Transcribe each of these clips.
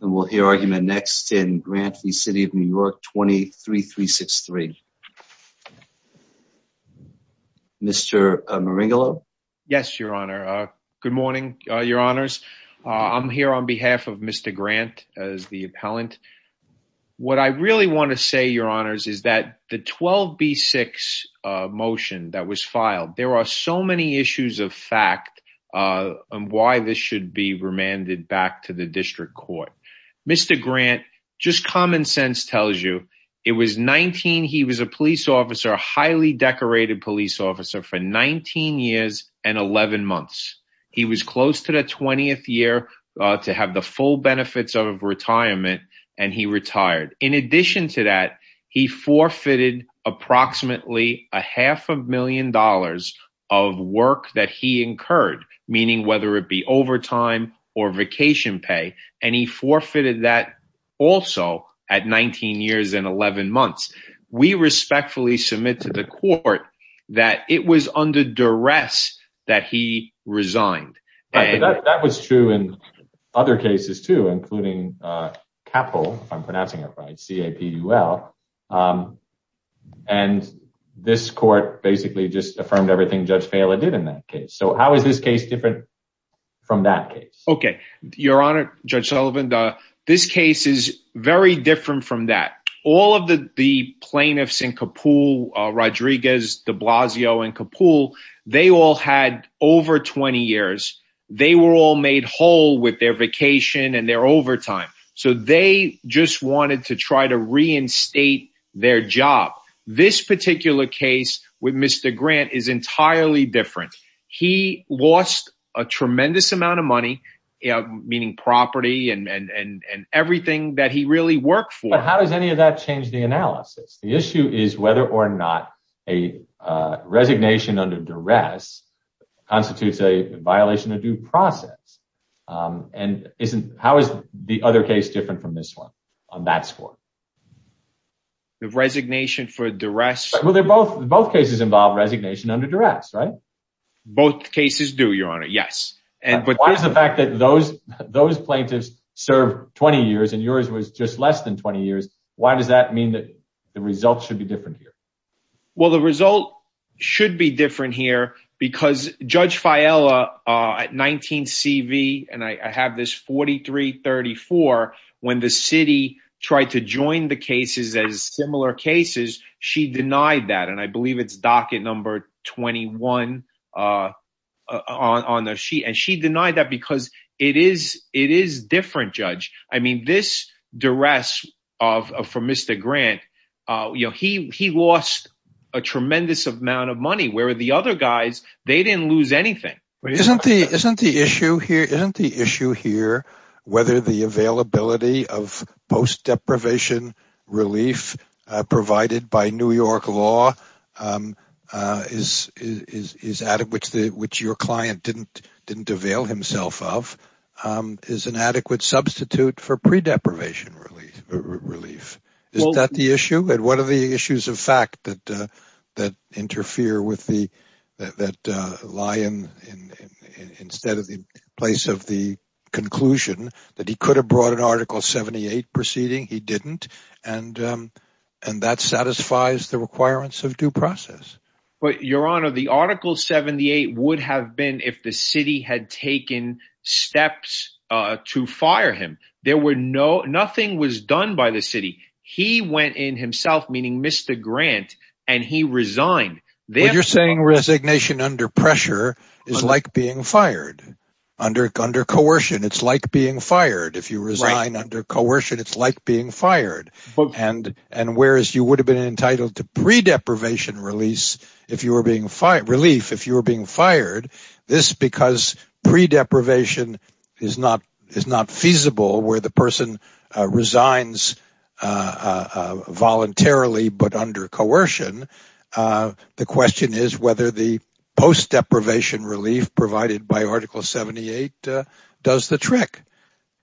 And we'll hear argument next in Grant v. City of New York 23-363. Mr. Maringolo? Yes, Your Honor. Good morning, Your Honors. I'm here on behalf of Mr. Grant as the appellant. What I really want to say, Your Honors, is that the 12B6 motion that was filed, there are so many issues of fact on why this should be remanded back to the district court. Mr. Grant, just common sense tells you, he was a police officer, a highly decorated police officer for 19 years and 11 months. He was close to the 20th year to have the full benefits of retirement and he retired. In addition to that, he forfeited approximately a half a million dollars of work that he incurred, meaning whether it be overtime or vacation pay, and he forfeited that also at 19 years and 11 months. We respectfully submit to the court that it was under duress that he resigned. Right, but that was true in other cases too, including Capul, if I'm pronouncing it right, C-A-P-U-L, and this court basically just affirmed everything Judge Fehler did in that case. So how is this case different from that case? Okay, Your Honor, Judge Sullivan, this case is very different from that. All of the plaintiffs in Capul, Rodriguez, de Blasio, and Capul, they all had over 20 years. They were all made whole with their vacation and their overtime. So they just wanted to try to reinstate their job. This particular case with Mr. Grant is entirely different. He lost a tremendous amount of money, meaning property and everything that he really worked for. But how does any of that change the analysis? The issue is whether or not a resignation under duress constitutes a violation of due process. And how is the other case different from this one on that score? The resignation for duress? Well, both cases involve resignation under duress, right? Both cases do, Your Honor, yes. But why is the fact that those plaintiffs served 20 years and yours was just less than 20 years, why does that mean that the results should be different here? Well, the result should be different here because Judge Fehler at 19CV, and I have this 43-34, when the city tried to join the cases as similar cases, she denied that. And I believe it's docket number 21 on the sheet. And she denied that because it is different, Judge. I mean, this duress for Mr. Grant, he lost a tremendous amount of money where the other guys, they didn't lose anything. Isn't the issue here whether the availability of post-deprivation relief provided by New York law, which your client didn't avail himself of, is an adequate substitute for pre-deprivation relief? Is that the issue? And what are the issues of fact that interfere with the, that lie instead of the place of the conclusion that he could have brought an Article 78 proceeding? He didn't. And that satisfies the requirements of due process. But Your Honor, the Article 78 would have been if the city had taken steps to fire him. There were no, nothing was done by the city. He went in himself, meaning Mr. Grant, and he resigned. You're saying resignation under pressure is like being fired under, under coercion. It's like being fired. If you resign under coercion, it's like being fired. And, and whereas you would have been entitled to pre-deprivation release, if you were being fired, relief, if you were being fired, this because pre-deprivation is not, is not feasible where the person resigns voluntarily, but under coercion. The question is whether the post-deprivation relief provided by Article 78 does the trick.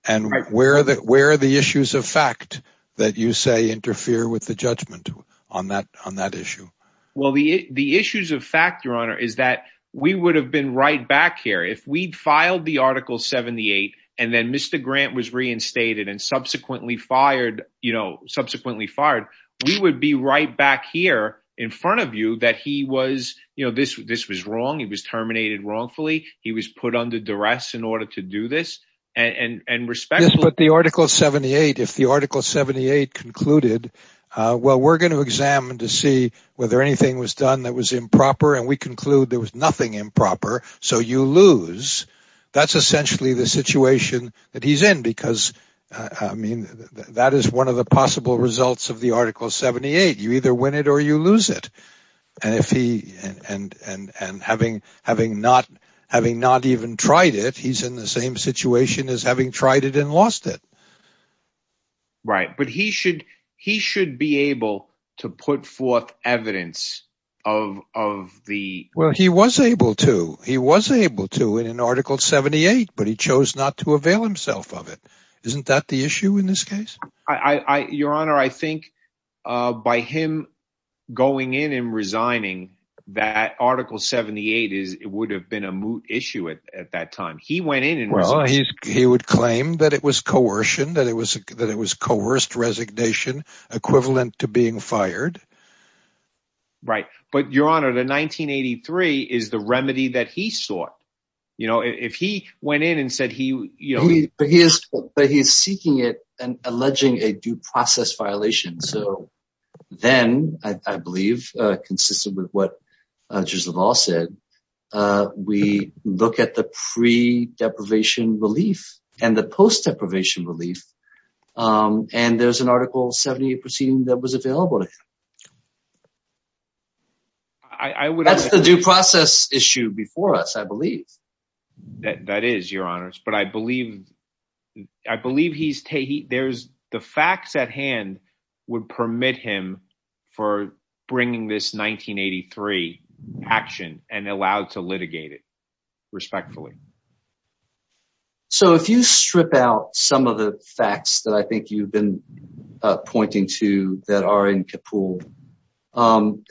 And where are the, where are the issues of fact that you say interfere with the judgment on that, on that issue? Well, the, the issues of fact, Your Honor, is that we would have been right back here if we'd filed the Article 78 and then Mr. Grant was reinstated and subsequently fired, you know, subsequently fired, we would be right back here in front of you that he was, you know, this, this was wrong. He was terminated wrongfully. He was put under duress in order to do this. And, and, and respectfully. Yes, but the Article 78, if the Article 78 concluded, well, we're going to examine to see whether anything was done that was improper. And we conclude there was nothing improper. So you lose. That's essentially the situation that he's in, because I mean, that is one of the possible results of the Article 78. You either win it or you lose it. And if he, and, and, and having, having not, having not even tried it, he's in the same situation as having tried it and lost it. Right. But he should, he should be able to put forth evidence of, of the, well, he was able to, he was able to in an Article 78, but he chose not to avail himself of it. Isn't that the issue in this case? I, I, your honor, I think by him going in and resigning that Article 78 is, it would have been a moot issue at, at that time he went in and he would claim that it was coercion, that it was, that it was coerced resignation equivalent to being fired. Right. But your honor, the 1983 is the remedy that he sought. You know, if he went in and said, but he is, but he is seeking it and alleging a due process violation. So then I believe, consistent with what Judge LaValle said, we look at the pre deprivation relief and the post deprivation relief. And there's an Article 78 proceeding that was available to him. I would, that's the due process issue before us, I believe. That is your honors. But I believe, I believe he's taking, there's the facts at hand would permit him for bringing this 1983 action and allowed to litigate it respectfully. So if you strip out some of the facts that I think you've been pointing to that are in Kapoor, um,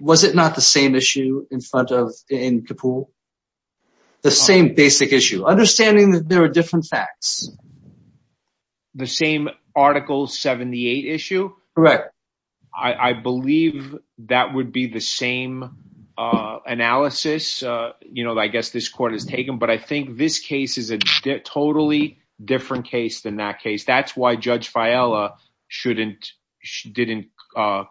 was it not the same issue in front of, in Kapoor? The same basic issue, understanding that there are different facts. The same Article 78 issue? Correct. I, I believe that would be the same, uh, analysis, uh, you know, I guess this court has taken, but I think this case is a totally different case than that case. That's why Judge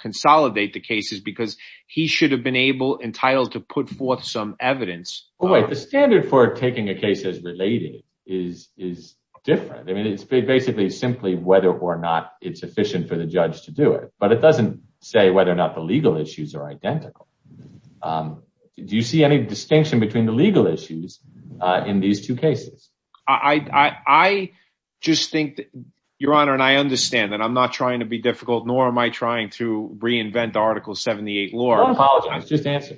consolidate the cases because he should have been able, entitled to put forth some evidence. Wait, the standard for taking a case as relating is, is different. I mean, it's basically simply whether or not it's efficient for the judge to do it, but it doesn't say whether or not the legal issues are identical. Um, do you see any distinction between the legal issues, uh, in these two cases? I, I, I just think that your honor, and I understand that I'm not trying to be difficult nor am I trying to reinvent the Article 78 law. I apologize. Just answer.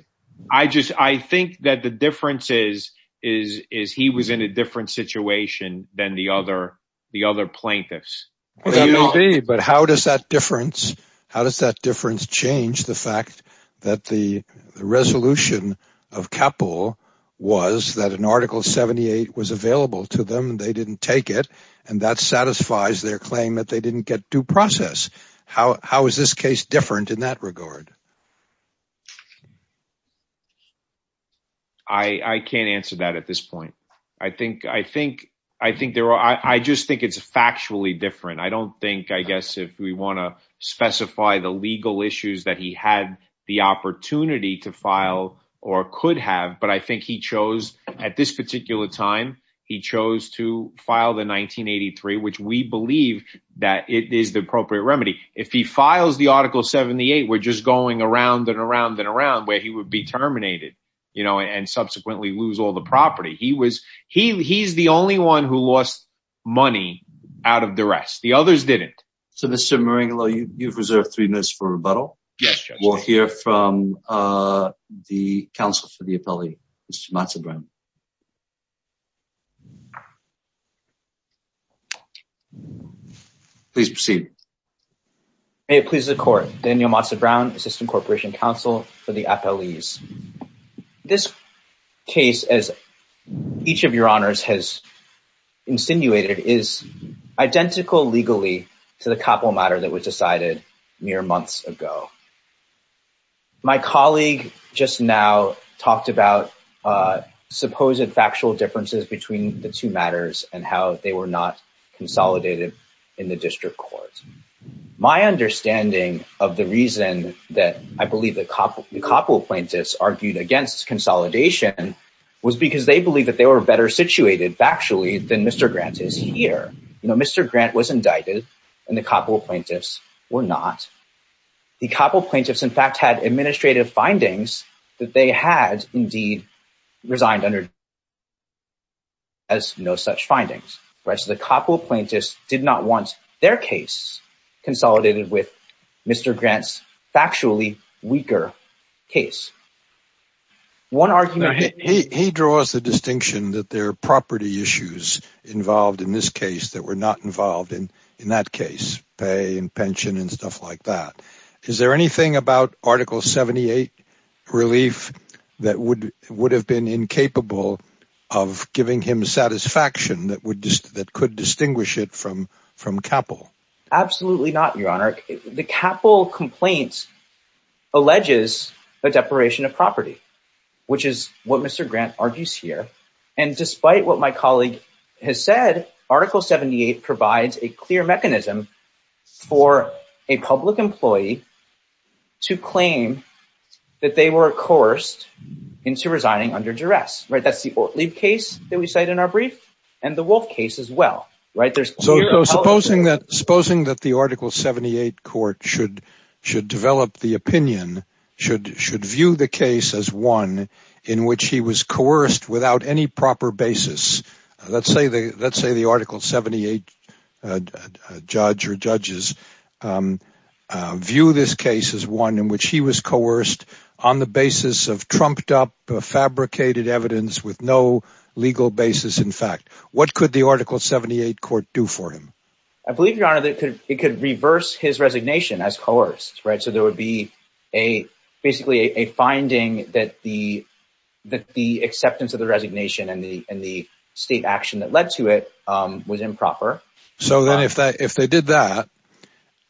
I just, I think that the difference is, is, is he was in a different situation than the other, the other plaintiffs. But how does that difference, how does that difference change the fact that the resolution of Kapoor was that an Article 78 was available to them and they didn't take it. And that satisfies their claim that they didn't get due process. How, how is this case different in that regard? I, I can't answer that at this point. I think, I think, I think there are, I just think it's factually different. I don't think, I guess, if we want to specify the legal issues that he had the opportunity to file or could have, but I think he chose at this particular time, he chose to file the 1983, which we believe that it is the appropriate remedy. If he files the Article 78, we're just going around and around and around where he would be terminated, you know, and subsequently lose all the property. He was, he, he's the only one who lost money out of the rest. The others didn't. So Mr. Maringolo, you've reserved three minutes for rebuttal. Yes. We'll hear from the counsel for the appellee, Mr. Matza-Brown. Please proceed. May it please the court. Daniel Matza-Brown, Assistant Corporation Counsel for the Appellees. This case, as each of your honors has insinuated, is identical legally to the mere months ago. My colleague just now talked about supposed factual differences between the two matters and how they were not consolidated in the district court. My understanding of the reason that I believe the Coppola plaintiffs argued against consolidation was because they believe that they were better situated factually than Mr. Grant is here. You know, Mr. Grant was or not. The Coppola plaintiffs in fact had administrative findings that they had indeed resigned under as no such findings, right? So the Coppola plaintiffs did not want their case consolidated with Mr. Grant's factually weaker case. One argument. He, he draws the distinction that there are property issues involved in this case that were not involved in, in that case, pay and pension and stuff like that. Is there anything about Article 78 relief that would, would have been incapable of giving him satisfaction that would just, that could distinguish it from, from CAPPL? Absolutely not, your honor. The CAPPL complaint alleges a deprivation of property, which is what Mr. Grant argues here. And despite what my colleague has said, Article 78 provides a clear mechanism for a public employee to claim that they were coerced into resigning under duress, right? That's the Ortlieb case that we cite in our brief and the Wolf case as well, right? So supposing that, supposing that the Article 78 court should, should develop the opinion, should, should view the case as one in which he was coerced without any proper basis. Let's say the, let's say the Article 78 judge or judges view this case as one in which he was coerced on the basis of trumped up, fabricated evidence with no legal basis. In fact, what could the Article 78 court do for him? I believe your honor that it could, it could reverse his resignation as coerced, right? So there would be a, basically a finding that the, that the acceptance of the resignation and the, and the state action that led to it was improper. So then if that, if they did that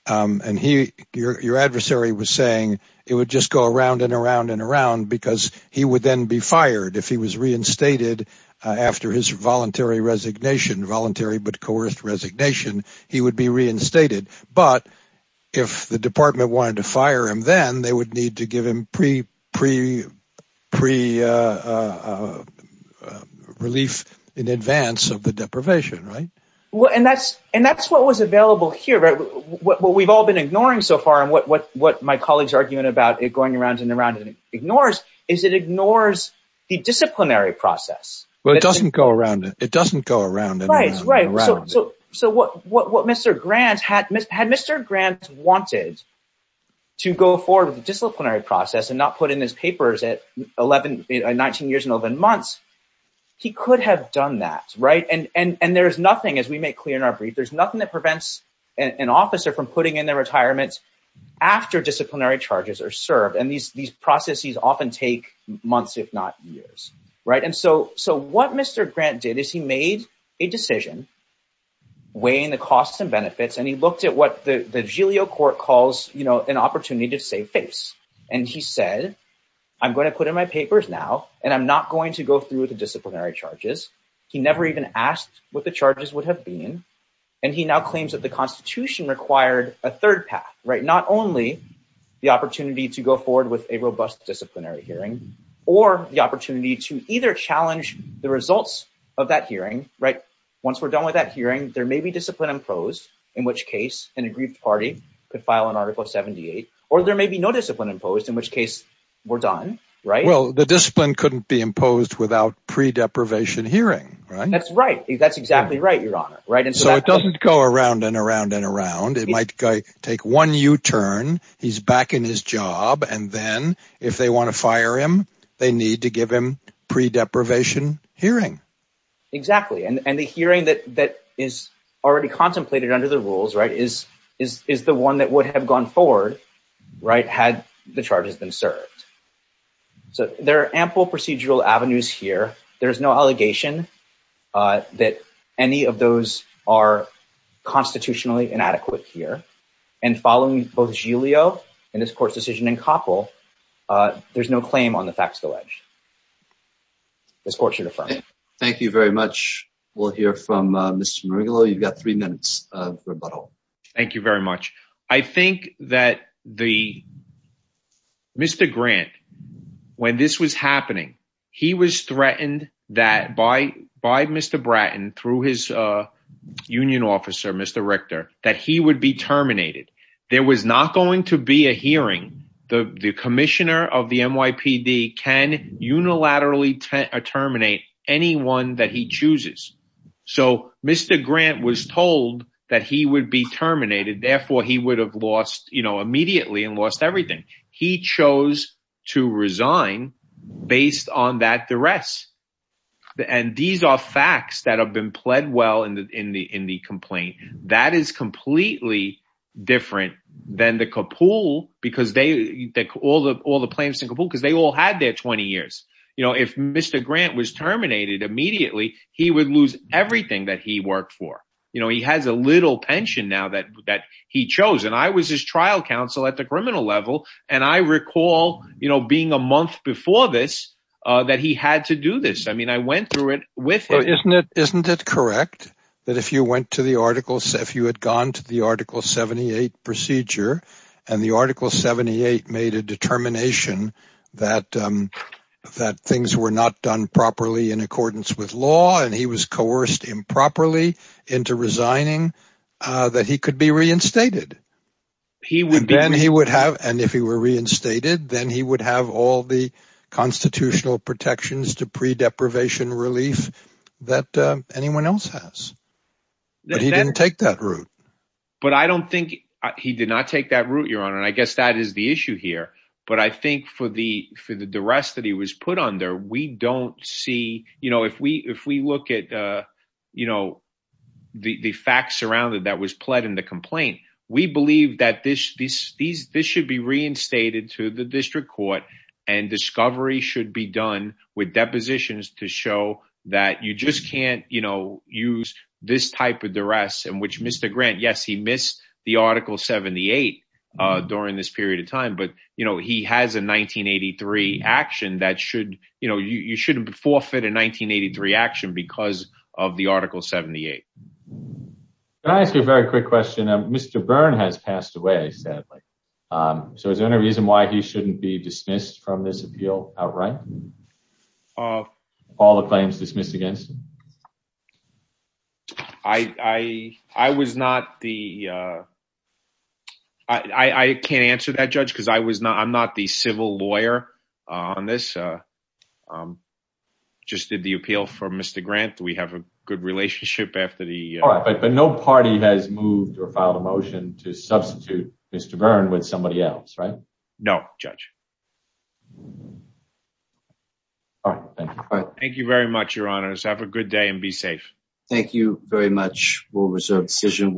and he, your, your adversary was saying it would just go around and around and around because he would then be fired. If he was reinstated after his voluntary resignation, voluntary, but coerced resignation, he would be reinstated. But if the pre, uh, uh, uh, uh, uh, relief in advance of the deprivation, right? Well, and that's, and that's what was available here, right? What, what we've all been ignoring so far and what, what, what my colleagues are arguing about it going around and around and ignores is it ignores the disciplinary process. Well, it doesn't go around. It doesn't go around and around. So, so what, what, what Mr. Grant had, had Mr. Grant wanted to go forward with and not put in his papers at 11, 19 years and 11 months, he could have done that, right? And, and, and there's nothing, as we make clear in our brief, there's nothing that prevents an officer from putting in their retirement after disciplinary charges are served. And these, these processes often take months, if not years, right? And so, so what Mr. Grant did is he made a decision weighing the costs and benefits. And he looked at what the, the Julio court calls, you know, an opportunity to save face. And he said, I'm going to put in my papers now, and I'm not going to go through with the disciplinary charges. He never even asked what the charges would have been. And he now claims that the constitution required a third path, right? Not only the opportunity to go forward with a robust disciplinary hearing or the opportunity to either challenge the results of that hearing, right? Once we're done with that or there may be no discipline imposed in which case we're done, right? Well, the discipline couldn't be imposed without pre deprivation hearing, right? That's right. That's exactly right. Your honor. Right. And so it doesn't go around and around and around. It might take one U-turn he's back in his job. And then if they want to fire him, they need to give him pre deprivation hearing. Exactly. And the hearing that, that is already contemplated under the rules, right? Is, is the one that would have gone forward, right? Had the charges been served. So there are ample procedural avenues here. There's no allegation that any of those are constitutionally inadequate here and following both Giglio and this court's decision in Koppel, there's no claim on the facts of the ledge. This court should affirm. Thank you very much. We'll hear from Mr. You've got three minutes of rebuttal. Thank you very much. I think that the Mr. Grant, when this was happening, he was threatened that by, by Mr. Bratton through his union officer, Mr. Richter, that he would be terminated. There was not going to be a hearing. The, the commissioner of the NYPD can unilaterally terminate anyone that he chooses. So Mr. Grant was told that he would be terminated. Therefore he would have lost, you know, immediately and lost everything. He chose to resign based on that duress. And these are facts that have been pled well in the, in the, in the complaint that is completely different than the Kapool because they, all the, all the plans in Kapool, because they all had their 20 years, you know, if Mr. Grant was terminated immediately, he would lose everything that he worked for. You know, he has a little pension now that, that he chose. And I was his trial counsel at the criminal level. And I recall, you know, being a month before this, that he had to do this. I mean, I went through it with him. Isn't it correct that if you went to the articles, if you had gone to the article 78 procedure and the article 78 made a determination that, um, that things were not done properly in accordance with law and he was coerced improperly into resigning, uh, that he could be reinstated. He would, then he would have, and if he were reinstated, then he would have all the constitutional protections to pre deprivation relief that, uh, anyone else has, but he didn't take that route. But I don't think he did not take that route you're on. And I guess that is the issue here, but I think for the, for the duress that he was put under, we don't see, you know, if we, if we look at, uh, you know, the, the facts surrounded that was pled in the complaint, we believe that this, this, these, this should be reinstated to the district court and discovery should be done with depositions to show that you just can't, you know, use this type of duress in which Mr. Grant, yes, he missed the article 78, uh, during this period of time, but you know, he has a 1983 action that should, you know, you, you shouldn't forfeit a 1983 action because of the article 78. Can I ask you a very quick question? Mr. Byrne has passed away, sadly. Um, so is there any reason why he shouldn't be dismissed from this deal outright? Uh, all the claims dismissed against him? I, I, I was not the, uh, I, I can't answer that judge because I was not, I'm not the civil lawyer on this. Uh, um, just did the appeal for Mr. Grant. We have a good relationship after the, but no party has moved or filed a motion to substitute Mr. Byrne with somebody else, right? No judge. All right. Thank you very much. Your honors have a good day and be safe. Thank you very much. We'll reserve decision.